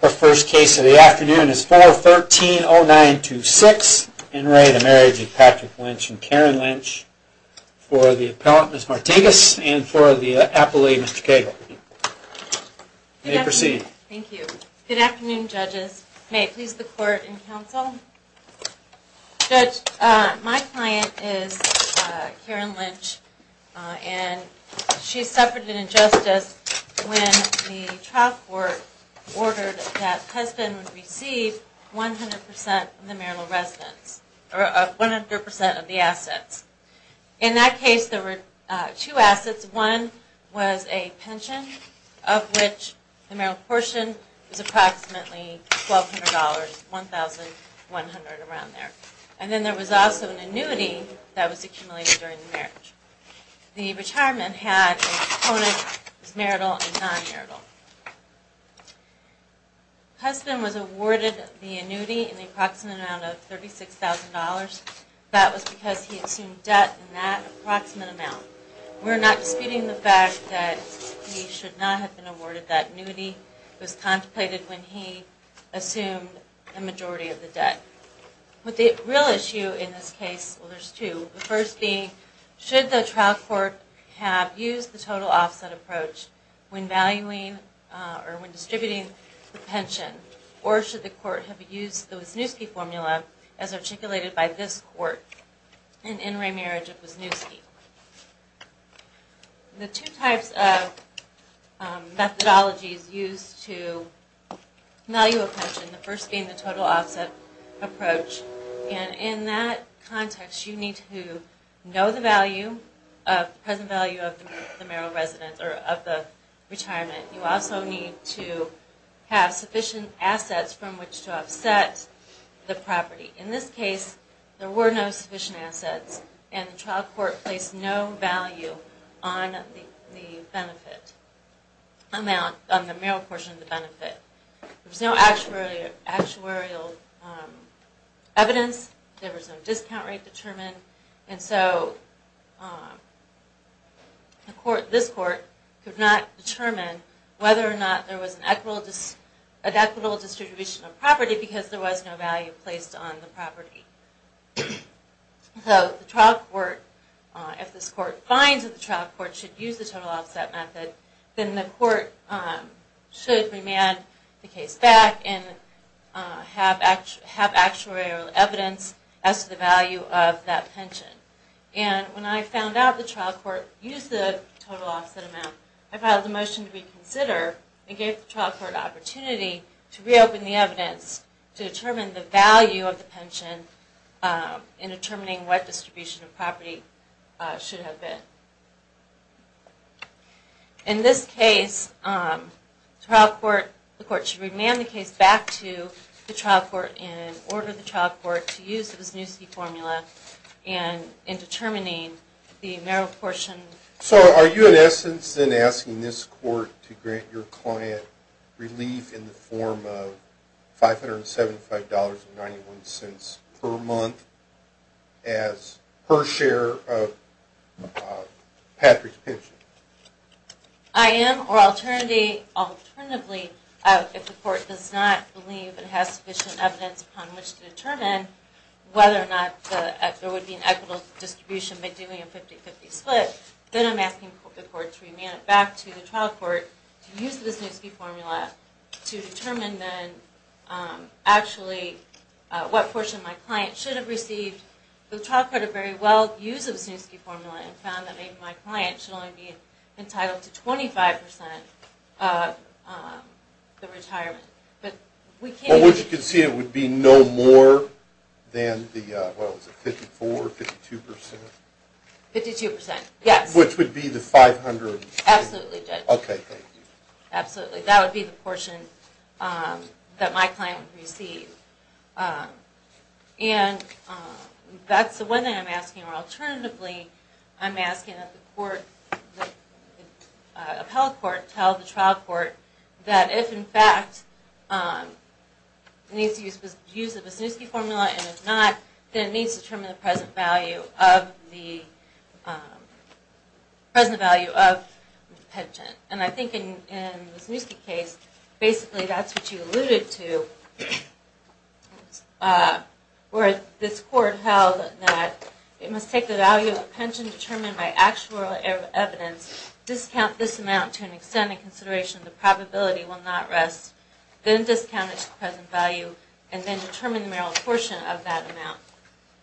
The first case of the afternoon is 413-0926 in re Marriage of Patrick Lynch and Karen Lynch for the appellant Ms. Martinez and for the appellate Ms. Cagle. You may proceed. Thank you. Good afternoon judges. May it please the court and counsel. Judge, my client is Karen Lynch and she suffered an injustice when the trial court ordered that husband receive 100% of the marital residence or 100% of the assets. In that case there were two assets. One was a pension of which the marital proportion was approximately $1,200, $1,100 around there. And then there was also an annuity that was accumulated during the marriage. The retirement had a component that was marital and non-marital. The husband was awarded the annuity in the approximate amount of $36,000. That was because he assumed debt in that approximate amount. We're not disputing the fact that he should not have been awarded that annuity. It was contemplated when he assumed the majority of the debt. But the real issue in this case, well there's two. The first being should the trial court have used the total offset approach when valuing or when distributing the pension. Or should the court have used the Wisniewski formula as articulated by this court in remarriage of Wisniewski. The two types of methodologies used to value a pension. The first being the total offset approach. And in that context you need to know the value, present value of the marital residence or of the retirement. You also need to have sufficient assets from which to offset the property. In this case there were no sufficient assets. And the trial court placed no value on the benefit amount, on the marital portion of the benefit. There was no actuarial evidence. There was no discount rate determined. And so this court could not determine whether or not there was an equitable distribution of property simply because there was no value placed on the property. So the trial court, if this court finds that the trial court should use the total offset method, then the court should remand the case back and have actuarial evidence as to the value of that pension. And when I found out the trial court used the total offset amount, I filed a motion to reconsider and gave the trial court an opportunity to reopen the evidence to determine the value of the pension in determining what distribution of property should have been. In this case, the court should remand the case back to the trial court and order the trial court to use the Wisniewski formula in determining the marital portion. So are you, in essence, then asking this court to grant your client relief in the form of $575.91 per month as per share of Patrick's pension? I am, or alternatively, if the court does not believe it has sufficient evidence upon which to determine whether or not there would be an equitable distribution by doing a 50-50 split, then I'm asking the court to remand it back to the trial court to use the Wisniewski formula to determine then actually what portion my client should have received. The trial court had very well used the Wisniewski formula and found that maybe my client should only be entitled to 25% of the retirement. But what you can see, it would be no more than the, what was it, 54% or 52%? 52%, yes. Which would be the $500? Absolutely, Judge. Okay, thank you. Absolutely, that would be the portion that my client would receive. And that's the one thing I'm asking, or alternatively, I'm asking that the court, the appellate court, tell the trial court that if, in fact, it needs to use the Wisniewski formula and if not, then it needs to determine the present value of the pension. And I think in the Wisniewski case, basically that's what you alluded to, where this court held that it must take the value of the pension determined by actual evidence, discount this amount to an extent in consideration the probability will not rest, then discount it to the present value, and then determine the marital portion of that amount.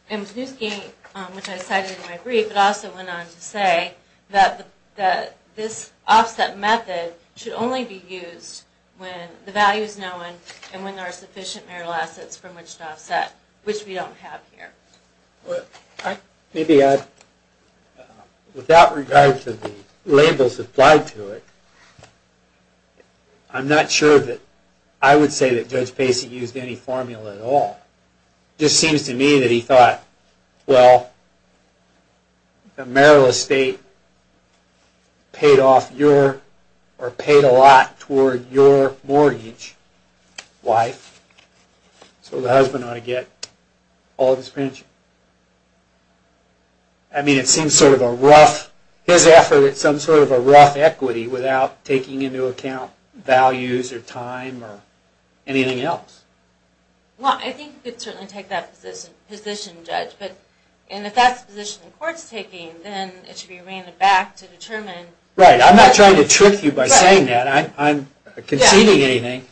And Wisniewski, which I cited in my brief, it also went on to say that this offset method should only be used when the value is known and when there are sufficient marital assets from which to offset, which we don't have here. Maybe without regard to the labels applied to it, I'm not sure that I would say that Judge Pacey used any formula at all. It just seems to me that he thought, well, the marital estate paid off your, or paid a lot toward your mortgage, wife, so the husband ought to get all of his pension. I mean, it seems sort of a rough, his effort is some sort of a rough equity without taking into account values or time or anything else. Well, I think you could certainly take that position, Judge, and if that's the position the court's taking, then it should be reined back to determine... Right. I'm not trying to trick you by saying that. I'm conceding anything.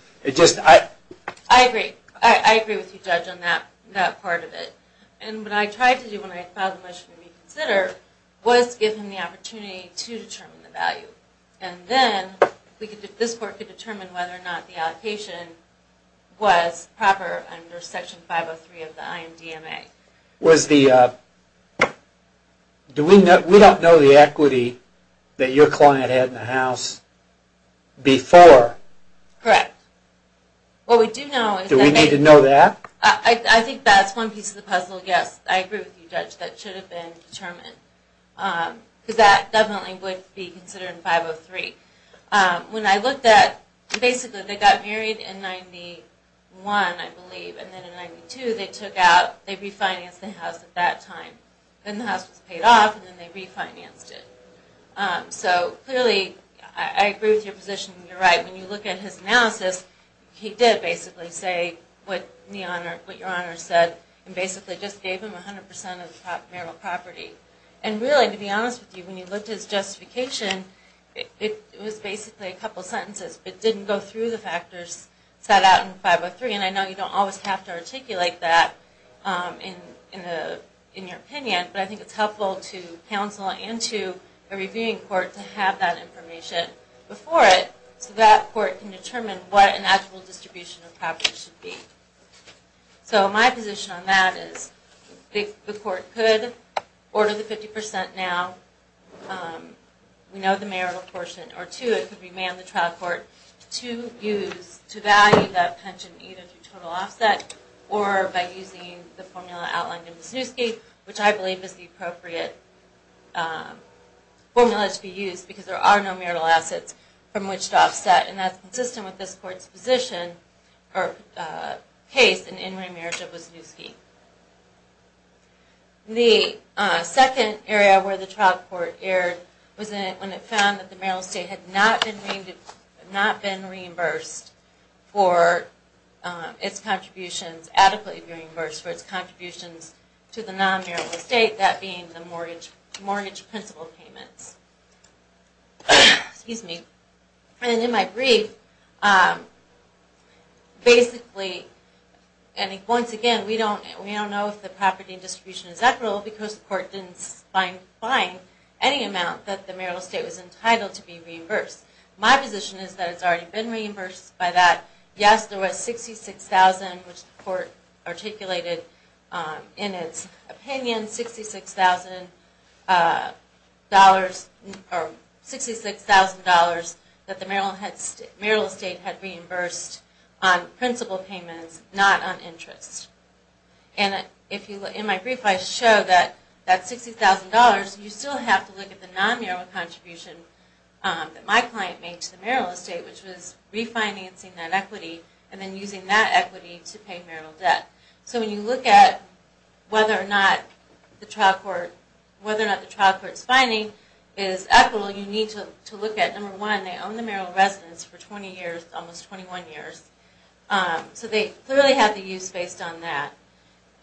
I agree. I agree with you, Judge, on that part of it. And what I tried to do when I filed the motion to reconsider was give him the opportunity to determine the value. And then this court could determine whether or not the allocation was proper under Section 503 of the IMDMA. Was the, do we know, we don't know the equity that your client had in the house before. Correct. What we do know is that... Do we need to know that? I think that's one piece of the puzzle, yes. I agree with you, Judge, that should have been determined. Because that definitely would be considered in 503. When I looked at, basically they got married in 91, I believe, and then in 92 they took out, they refinanced the house at that time. Then the house was paid off and then they refinanced it. So, clearly, I agree with your position and you're right. When you look at his analysis, he did basically say what your Honor said and basically just gave him 100% of the marital property. And really, to be honest with you, when you looked at his justification, it was basically a couple sentences, but didn't go through the factors set out in 503. And, again, I know you don't always have to articulate that in your opinion, but I think it's helpful to counsel and to a reviewing court to have that information before it so that court can determine what an actual distribution of property should be. So, my position on that is if the court could order the 50% now, we know the marital portion, or two, it could be manned the trial court to use, to value that pension either through total offset or by using the formula outlined in Wisniewski, which I believe is the appropriate formula to be used because there are no marital assets from which to offset. And that's consistent with this court's position, or case, in in-ring marriage of Wisniewski. The second area where the trial court erred was when it found that the marital estate had not been reimbursed for its contributions, adequately reimbursed for its contributions to the non-marital estate, that being the mortgage principal payments. And in my brief, basically, and once again, we don't know if the property distribution is equitable because the court didn't find any amount that the marital estate was entitled to be reimbursed. My position is that it's already been reimbursed by that. Yes, there was $66,000, which the court articulated in its opinion, $66,000 that the marital estate had reimbursed on principal payments, not on interest. And in my brief, I show that that $60,000, you still have to look at the non-marital contribution that my client made to the marital estate, which was refinancing that equity and then using that equity to pay marital debt. So when you look at whether or not the trial court's finding is equitable, you need to look at, number one, they own the marital residence for 20 years, almost 21 years. So they clearly have the use based on that.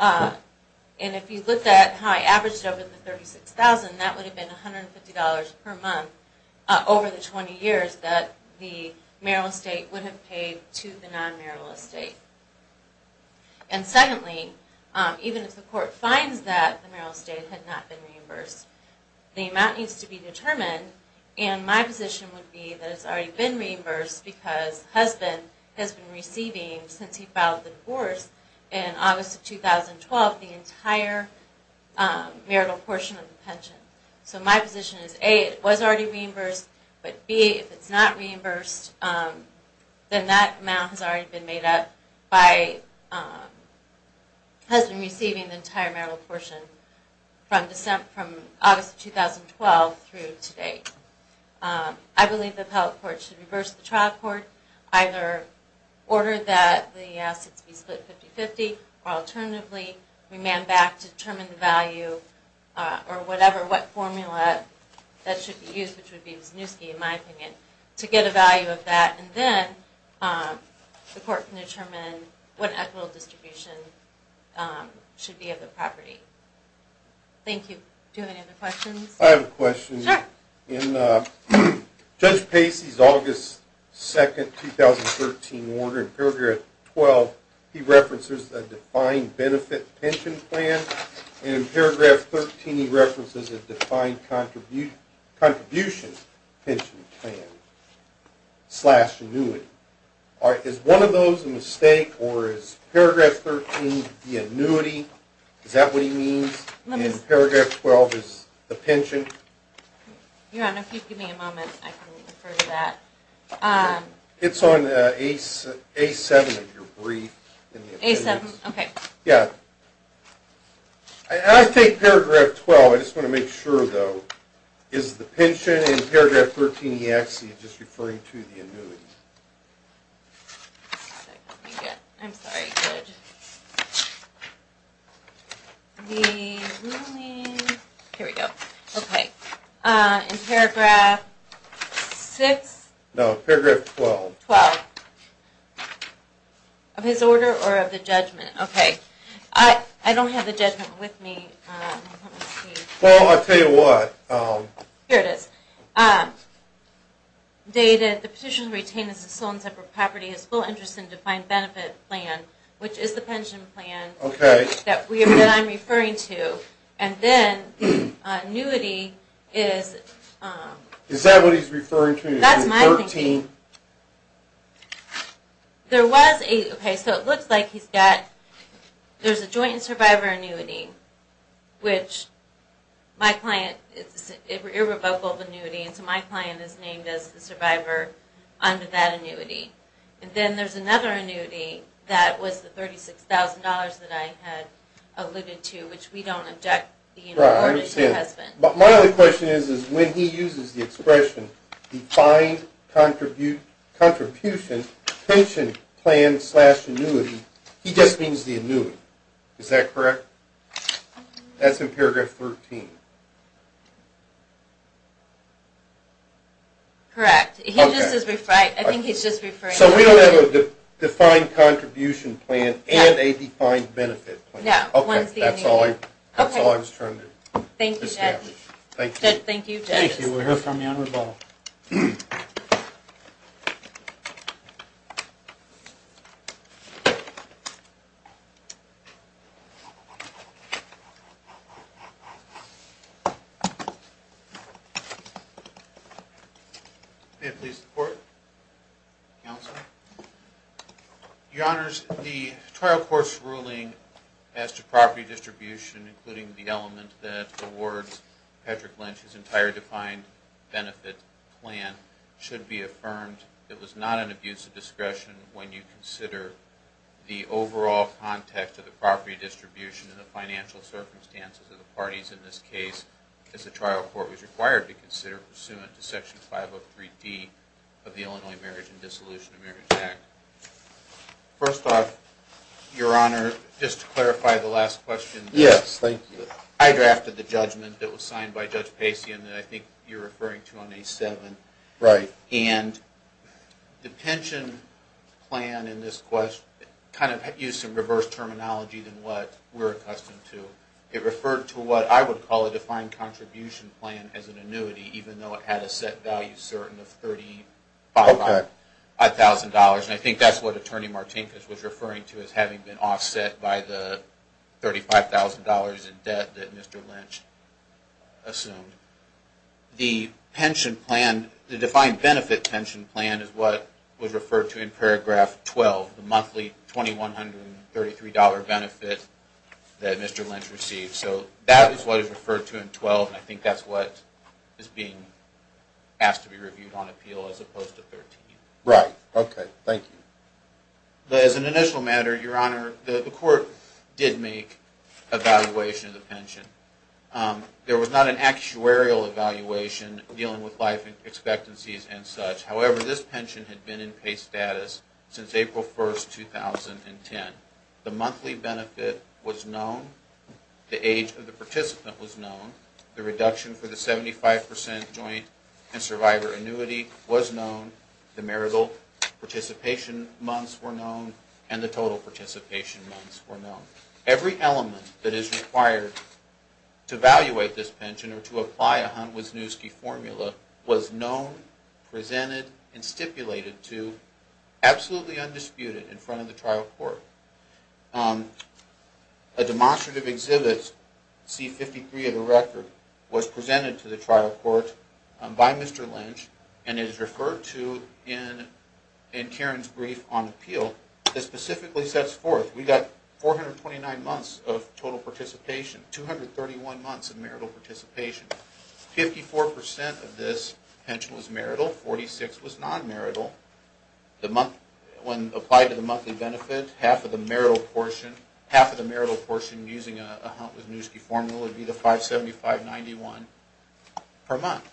And if you look at how I averaged over the $36,000, that would have been $150 per month over the 20 years that the marital estate would have paid to the non-marital estate. And secondly, even if the court finds that the marital estate had not been reimbursed, the amount needs to be determined, and my position would be that it's already been reimbursed because the husband has been receiving since he filed the divorce in August of 2012 the entire marital portion of the pension. So my position is, A, it was already reimbursed, but B, if it's not reimbursed, then that amount has already been made up by the husband receiving the entire marital portion from August of 2012 through today. I believe the appellate court should reverse the trial court, either order that the assets be split 50-50, or alternatively remand back to determine the value or whatever, what formula that should be used, which would be Wisniewski, in my opinion, to get a value of that, and then the court can determine what equitable distribution should be of the property. Thank you. Do you have any other questions? I have a question. Sure. In Judge Pacey's August 2, 2013, order in paragraph 12, he references a defined benefit pension plan, and in paragraph 13 he references a defined contributions pension plan slash annuity. Is one of those a mistake, or is paragraph 13 the annuity? Is that what he means? In paragraph 12 is the pension? Your Honor, if you'd give me a moment, I can refer to that. It's on A7 of your brief. A7, okay. Yeah. I take paragraph 12. I just want to make sure, though. Is the pension in paragraph 13, he actually is just referring to the annuity? Let me get it. I'm sorry. Here we go. Okay. In paragraph 6? No, paragraph 12. 12. Of his order or of the judgment? Okay. I don't have the judgment with me. Well, I'll tell you what. Here it is. Dated, the petition retained as a sole and separate property is full interest in defined benefit plan, which is the pension plan that I'm referring to. And then annuity is? Is that what he's referring to? That's my thinking. There was a, okay, so it looks like he's got, there's a joint and survivor annuity, which my client, it's an irrevocable annuity, and so my client is named as the survivor under that annuity. And then there's another annuity that was the $36,000 that I had alluded to, which we don't object being awarded to a husband. Right, I understand. But my only question is, is when he uses the expression he just means the annuity. Is that correct? That's in paragraph 13. Correct. I think he's just referring to the annuity. So we don't have a defined contribution plan and a defined benefit plan. No, one's the annuity. Okay, that's all I was trying to establish. Thank you, Judge. Thank you, Judge. Thank you. Do we hear from the Honorable? May it please the Court? Counsel? Your Honors, the trial court's ruling as to property distribution, including the element that awards Patrick Lynch his entire defined benefit plan, should be affirmed. It was not an abuse of discretion when you consider the overall context of the property distribution and the financial circumstances of the parties in this case as the trial court was required to consider pursuant to Section 503D of the Illinois Marriage and Dissolution of Marriage Act. First off, Your Honor, just to clarify the last question. Yes, thank you. I drafted the judgment that was signed by Judge Pacey and that I think you're referring to on A7. Right. And the pension plan in this question kind of used some reverse terminology than what we're accustomed to. It referred to what I would call a defined contribution plan as an annuity, even though it had a set value certain of $35,000. And I think that's what Attorney Martinkus was referring to as having been $35,000 in debt that Mr. Lynch assumed. The pension plan, the defined benefit pension plan, is what was referred to in paragraph 12, the monthly $2,133 benefit that Mr. Lynch received. So that is what is referred to in 12, and I think that's what is being asked to be reviewed on appeal as opposed to 13. Right. Okay. Thank you. As an initial matter, Your Honor, the court did make evaluation of the pension. There was not an actuarial evaluation dealing with life expectancies and such. However, this pension had been in pay status since April 1, 2010. The monthly benefit was known. The age of the participant was known. The reduction for the 75% joint and survivor annuity was known. The marital participation months were known, and the total participation months were known. Every element that is required to evaluate this pension or to apply a Hunt-Wisniewski formula was known, presented, and stipulated to absolutely undisputed in front of the trial court. A demonstrative exhibit, C-53 of the record, was presented to the trial court by Mr. Lynch, and it is referred to in Karen's brief on appeal. It specifically sets forth we've got 429 months of total participation, 231 months of marital participation. Fifty-four percent of this pension was marital. Forty-six was non-marital. When applied to the monthly benefit, half of the marital portion using a Hunt-Wisniewski formula would be the 575.91 per month.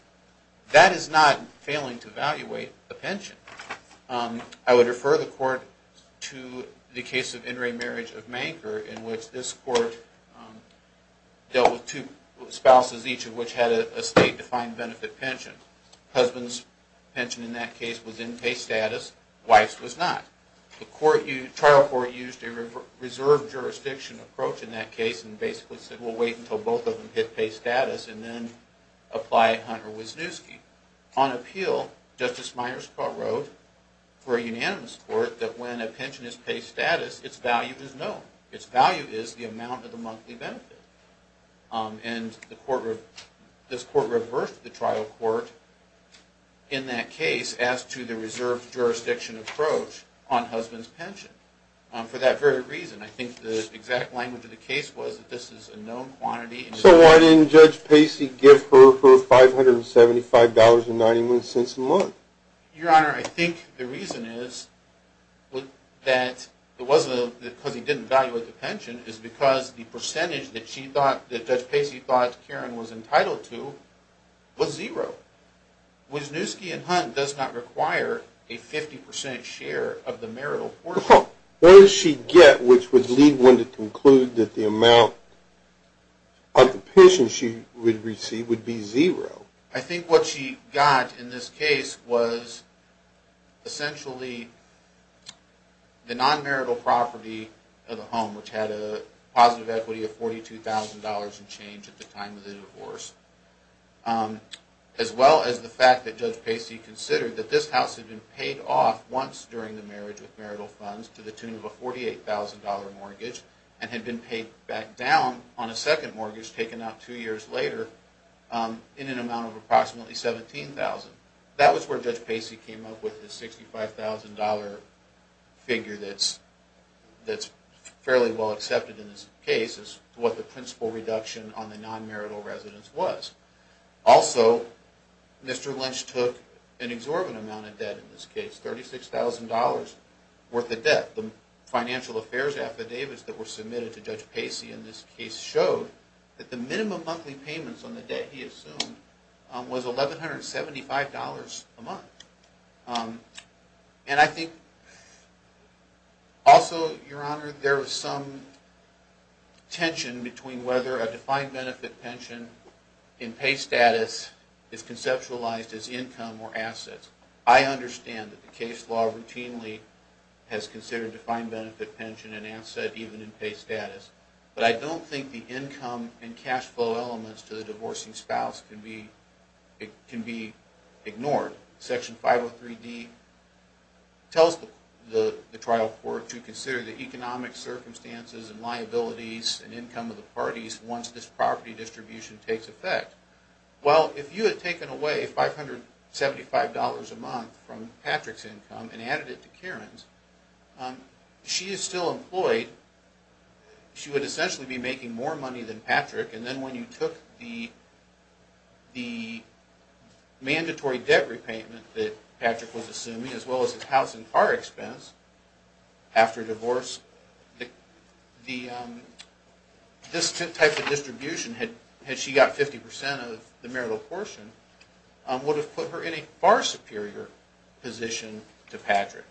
That is not failing to evaluate a pension. I would refer the court to the case of In re Marriage of Manker, in which this court dealt with two spouses, each of which had a state-defined benefit pension. Husband's pension in that case was in pay status. Wife's was not. The trial court used a reserve jurisdiction approach in that case and basically said we'll wait until both of them hit pay status and then apply Hunt-Wisniewski. On appeal, Justice Myers wrote for a unanimous court that when a pension is pay status, its value is known. Its value is the amount of the monthly benefit. And this court reversed the trial court in that case as to the reserve jurisdiction approach on husband's pension for that very reason. I think the exact language of the case was that this is a known quantity. So why didn't Judge Pacey give her her $575.91 a month? Your Honor, I think the reason is that it wasn't because he didn't evaluate the pension. It's because the percentage that Judge Pacey thought Karen was entitled to was zero. Wisniewski and Hunt does not require a 50% share of the marital portion. What did she get which would lead one to conclude that the amount of the pension she would receive would be zero? I think what she got in this case was essentially the non-marital property of the home, which had a positive equity of $42,000 in change at the time of the divorce, as well as the fact that Judge Pacey considered that this house had been paid off once during the marriage with marital funds to the tune of a $48,000 mortgage and had been paid back down on a second mortgage taken out two years later in an amount of approximately $17,000. That was where Judge Pacey came up with the $65,000 figure that's fairly well accepted in this case as to what the principal reduction on the non-marital residence was. Also, Mr. Lynch took an exorbitant amount of debt in this case, $36,000 worth of debt. The financial affairs affidavits that were submitted to Judge Pacey in this case showed that the minimum monthly payments on the debt he assumed was $1,175 a month. Also, Your Honor, there was some tension between whether a defined benefit pension in pay status is conceptualized as income or assets. I understand that the case law routinely has considered defined benefit pension an asset even in pay status, but I don't think the income and cash flow elements to the divorcing spouse can be ignored. Section 503D tells the trial court to consider the economic circumstances and liabilities and income of the parties once this property distribution takes effect. Well, if you had taken away $575 a month from Patrick's income and added it to Karen's, she is still employed. She would essentially be making more money than Patrick. And then when you took the mandatory debt repayment that Patrick was assuming, as well as his house and car expense after divorce, this type of distribution, had she got 50% of the marital portion, would have put her in a far superior position to Patrick.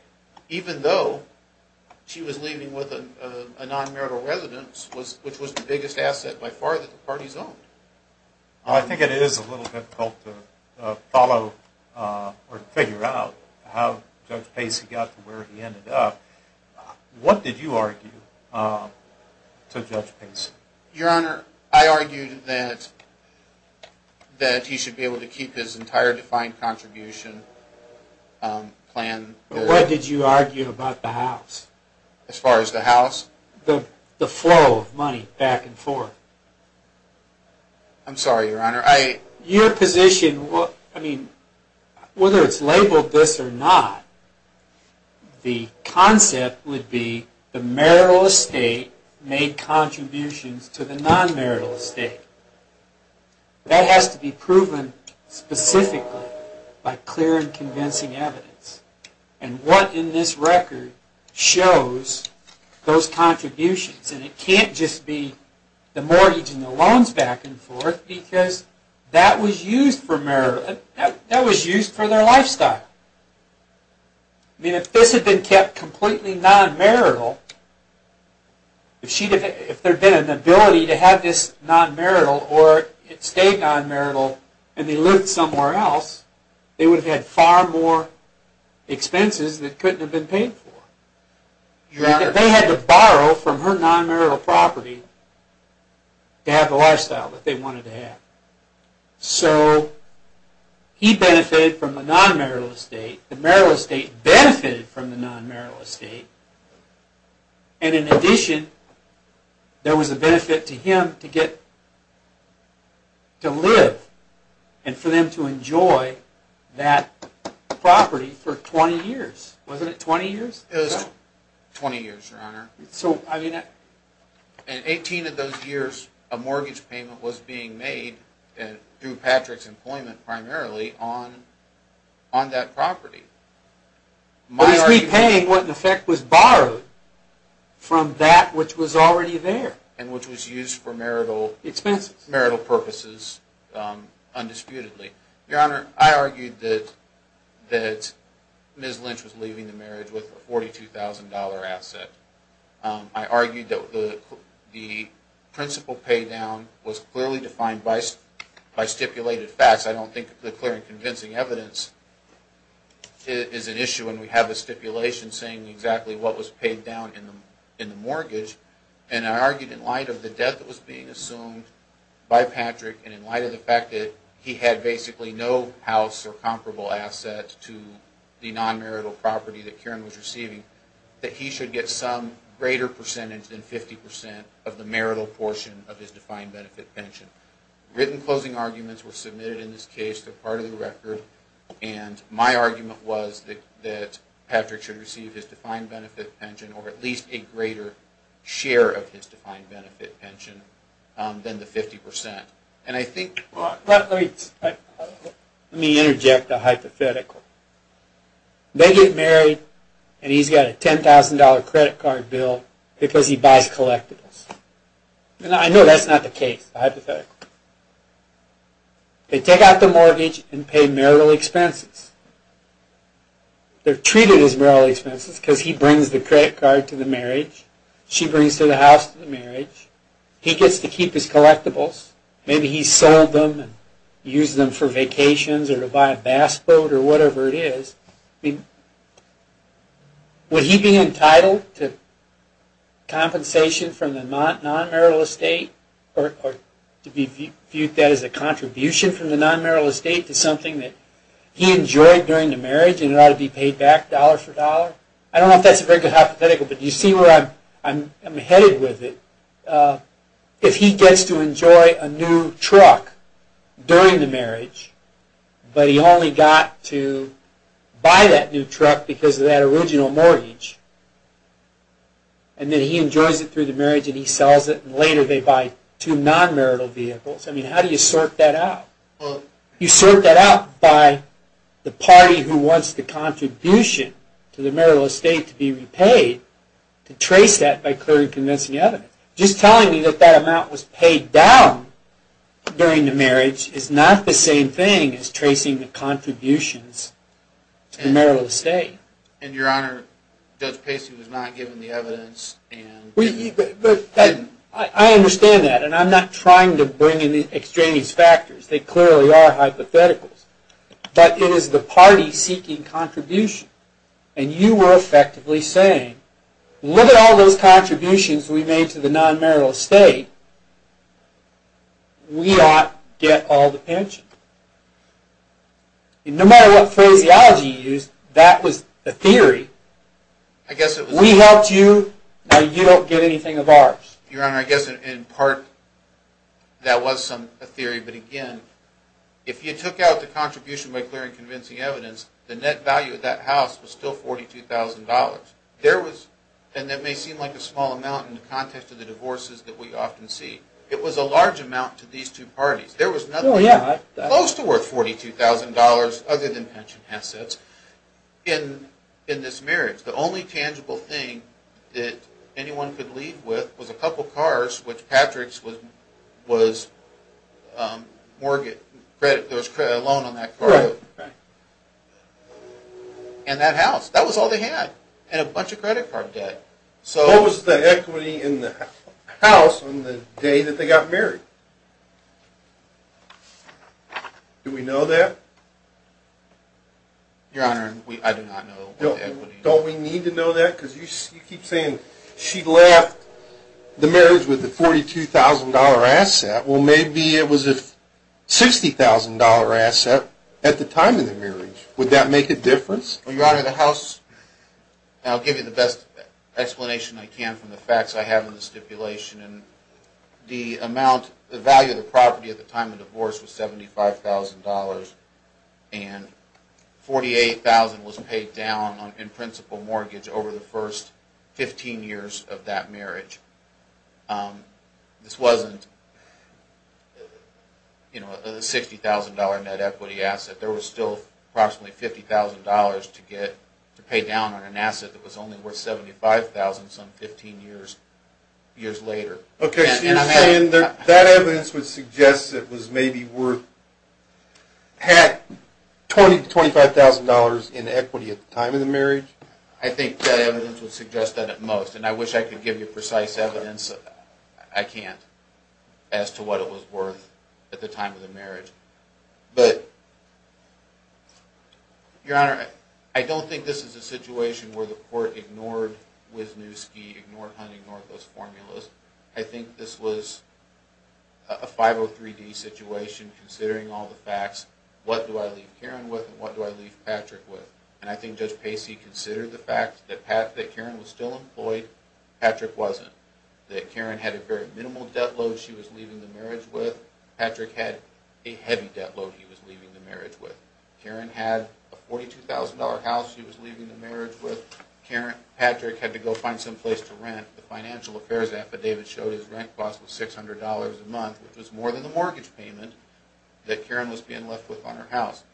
Even though she was leaving with a non-marital residence, which was the biggest asset by far that the parties owned. I think it is a little difficult to follow or figure out how Judge Pace got to where he ended up. What did you argue to Judge Pace? Your Honor, I argued that he should be able to keep his entire defined contribution plan. What did you argue about the house? As far as the house? As far as the flow of money back and forth. I'm sorry, Your Honor. Your position, whether it is labeled this or not, the concept would be the marital estate made contributions to the non-marital estate. That has to be proven specifically by clear and convincing evidence. What in this record shows those contributions? It can't just be the mortgage and the loans back and forth, because that was used for their lifestyle. If this had been kept completely non-marital, if there had been an ability to have this non-marital or it stayed non-marital and they lived somewhere else, they would have had far more expenses that couldn't have been paid for. They had to borrow from her non-marital property to have the lifestyle that they wanted to have. So he benefited from the non-marital estate, the marital estate benefited from the non-marital estate, and in addition, there was a benefit to him to get to live and for them to enjoy that property for 20 years. Wasn't it 20 years? It was 20 years, Your Honor. In 18 of those years, a mortgage payment was being made through Patrick's employment primarily on that property. He was repaying what in effect was borrowed from that which was already there. And which was used for marital purposes undisputedly. Your Honor, I argued that Ms. Lynch was leaving the marriage with a $42,000 asset. I argued that the principal pay down was clearly defined by stipulated facts. I don't think the clear and convincing evidence is an issue when we have a stipulation saying exactly what was paid down in the mortgage. And I argued in light of the debt that was being assumed by Patrick and in light of the fact that he had basically no house or comparable asset to the non-marital property that Karen was receiving, that he should get some greater percentage than 50% of the marital portion of his defined benefit pension. Written closing arguments were submitted in this case. They're part of the record. And my argument was that Patrick should receive his defined benefit pension or at least a greater share of his defined benefit pension than the 50%. Let me interject a hypothetical. They get married and he's got a $10,000 credit card bill because he buys collectibles. I know that's not the case, hypothetically. They take out the mortgage and pay marital expenses. They're treated as marital expenses because he brings the credit card to the marriage, she brings the house to the marriage. He gets to keep his collectibles. Maybe he sold them and used them for vacations or to buy a bass boat or whatever it is. Would he be entitled to compensation from the non-marital estate or to be viewed that as a contribution from the non-marital estate to something that he enjoyed during the marriage and it ought to be paid back dollar for dollar? I don't know if that's a very good hypothetical, but you see where I'm headed with it. If he gets to enjoy a new truck during the marriage but he only got to buy that new truck because of that original mortgage and then he enjoys it through the marriage and he sells it and later they buy two non-marital vehicles. How do you sort that out? You sort that out by the party who wants the contribution to the marital estate to be repaid. Trace that by clearly convincing evidence. Just telling me that that amount was paid down during the marriage is not the same thing as tracing the contributions to the marital estate. Your Honor, Judge Pacey was not given the evidence. I understand that and I'm not trying to bring in extraneous factors. They clearly are hypotheticals, but it is the party seeking contribution and you were effectively saying, look at all those contributions we made to the non-marital estate, we ought to get all the pension. No matter what phraseology you used, that was a theory. We helped you, now you don't get anything of ours. Your Honor, I guess in part that was a theory, but again, if you took out the contribution by clearing convincing evidence, the net value of that house was still $42,000. And that may seem like a small amount in the context of the divorces that we often see. It was a large amount to these two parties. There was nothing close to worth $42,000 other than pension assets in this marriage. The only tangible thing that anyone could leave with was a couple cars, which Patrick's was a loan on that car, and that house. That was all they had, and a bunch of credit card debt. What was the equity in the house on the day that they got married? Do we know that? Your Honor, I do not know the equity. Don't we need to know that? You keep saying she left the marriage with a $42,000 asset. Well, maybe it was a $60,000 asset at the time of the marriage. Would that make a difference? Your Honor, I'll give you the best explanation I can from the facts I have in the stipulation. The value of the property at the time of the divorce was $75,000, and $48,000 was paid down in principal mortgage over the first 15 years of that marriage. This wasn't a $60,000 net equity asset. There was still approximately $50,000 to pay down on an asset that was only worth $75,000 some 15 years later. Okay, so you're saying that evidence would suggest it was maybe worth $20,000 to $25,000 in equity at the time of the marriage? I think that evidence would suggest that at most, and I wish I could give you precise evidence. I can't as to what it was worth at the time of the marriage. But, Your Honor, I don't think this is a situation where the court ignored Wisniewski, ignored Hunt, ignored those formulas. I think this was a 503-D situation considering all the facts. What do I leave Karen with and what do I leave Patrick with? And I think Judge Pacey considered the fact that Karen was still employed. Patrick wasn't. That Karen had a very minimal debt load she was leaving the marriage with. Patrick had a heavy debt load he was leaving the marriage with. Karen had a $42,000 house she was leaving the marriage with. Patrick had to go find some place to rent. The financial affairs affidavit showed his rent cost was $600 a month, which was more than the mortgage payment that Karen was being left with on her house.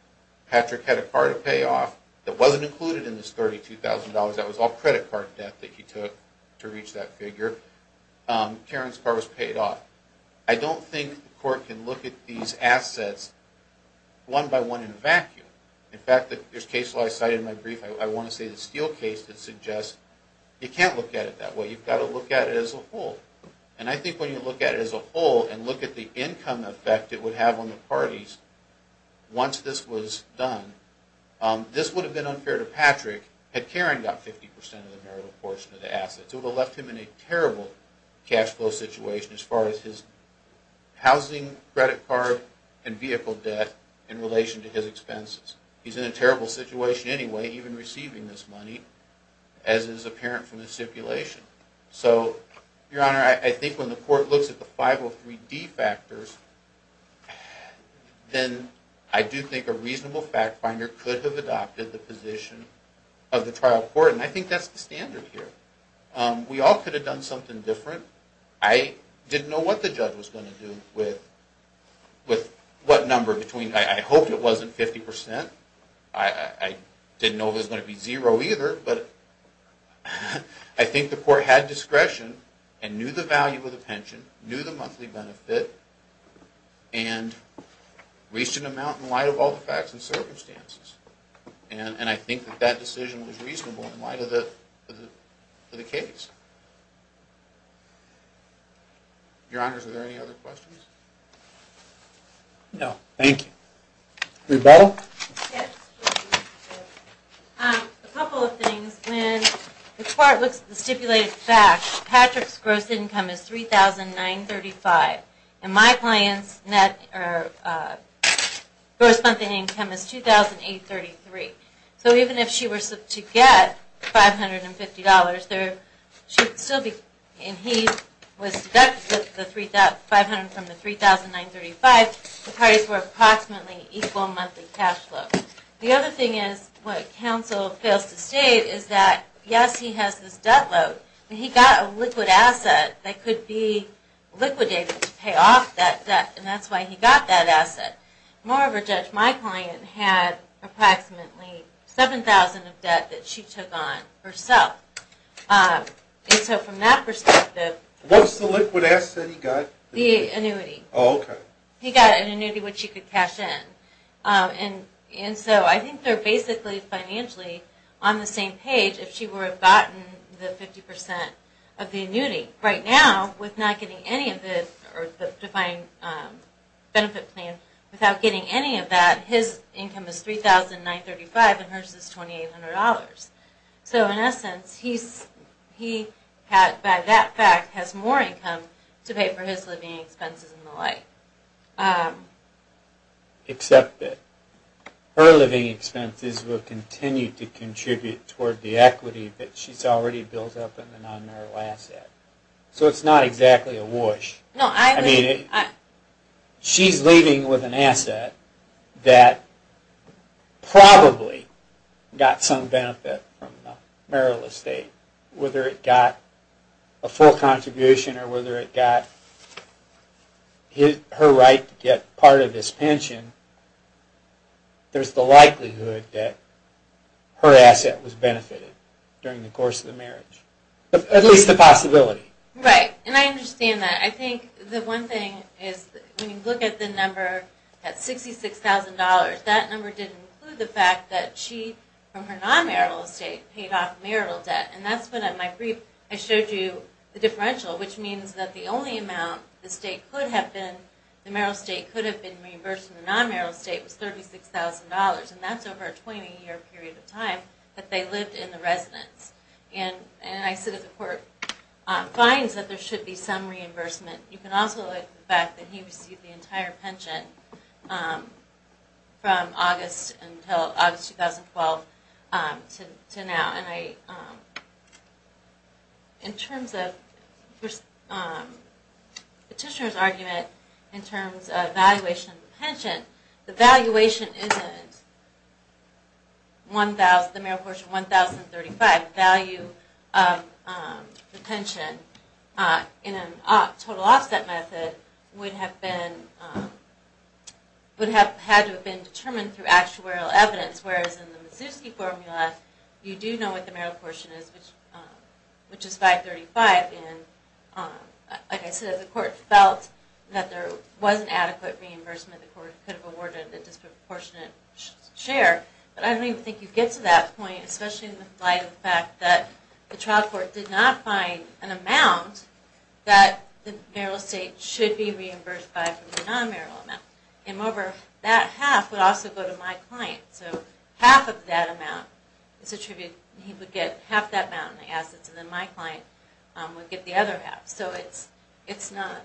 Patrick had a car to pay off that wasn't included in this $32,000. That was all credit card debt that he took to reach that figure. Karen's car was paid off. I don't think the court can look at these assets one by one in a vacuum. In fact, there's a case I cited in my brief, I want to say the Steele case, that suggests you can't look at it that way. You've got to look at it as a whole. And I think when you look at it as a whole and look at the income effect it would have on the parties once this was done, this would have been unfair to Patrick had Karen got 50% of the marital portion of the assets. It would have left him in a terrible cash flow situation as far as his housing, credit card, and vehicle debt in relation to his expenses. He's in a terrible situation anyway, even receiving this money, as is apparent from the stipulation. So, Your Honor, I think when the court looks at the 503D factors, then I do think a reasonable fact finder could have adopted the position of the trial court. And I think that's the standard here. We all could have done something different. I didn't know what the judge was going to do with what number, I hope it wasn't 50%. I didn't know it was going to be zero either. But I think the court had discretion and knew the value of the pension, knew the monthly benefit, and reached an amount in light of all the facts and circumstances. And I think that decision was reasonable in light of the case. Your Honor, are there any other questions? No, thank you. Rebuttal? Yes. A couple of things. When the court looks at the stipulated facts, Patrick's gross income is $3,935, and my client's gross monthly income is $2,833. So even if she were to get $550, and he was deducted the $500 from the $3,935, the parties were approximately equal monthly cash flow. The other thing is what counsel fails to state is that, yes, he has this debt load, but he got a liquid asset that could be liquidated to pay off that debt, and that's why he got that asset. Moreover, Judge, my client had approximately $7,000 of debt that she took on herself. And so from that perspective, What's the liquid asset he got? The annuity. Oh, okay. He got an annuity which he could cash in. And so I think they're basically financially on the same page if she were to have gotten the 50% of the annuity. Right now, with not getting any of the defined benefit plan, without getting any of that, his income is $3,935 and hers is $2,800. So in essence, he by that fact has more income to pay for his living expenses and the like. Except that her living expenses will continue to contribute toward the equity that she's already built up in the non-marital asset. So it's not exactly a whoosh. I mean, she's leaving with an asset that probably got some benefit from the marital estate, whether it got a full contribution or whether it got her right to get part of his pension. There's the likelihood that her asset was benefited during the course of the marriage. At least the possibility. Right. And I understand that. I think the one thing is when you look at the number at $66,000, that number didn't include the fact that she, from her non-marital estate, paid off marital debt. And that's what, in my brief, I showed you the differential, which means that the only amount the state could have been, the marital estate could have been reimbursed from the non-marital estate was $36,000. And that's over a 20-year period of time that they lived in the residence. And I said that the court finds that there should be some reimbursement. You can also look at the fact that he received the entire pension from August 2012 to now. And in terms of Petitioner's argument in terms of valuation of the pension, the valuation isn't the marital portion $1,035. The value of the pension in a total offset method would have had to have been determined through actuarial evidence, whereas in the Mazowski formula, you do know what the marital portion is, which is $535. And like I said, the court felt that there wasn't adequate reimbursement that the court could have awarded a disproportionate share. But I don't even think you get to that point, especially in the light of the fact that the trial court did not find an amount that the marital estate should be reimbursed by from the non-marital amount. And moreover, that half would also go to my client. So half of that amount is attributed, he would get half that amount in the assets, and then my client would get the other half. So it's not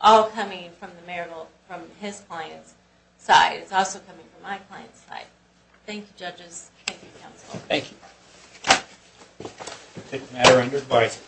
all coming from the marital, from his client's side. It's also coming from my client's side. Thank you, judges. Thank you, counsel. Thank you. I take the matter under advice.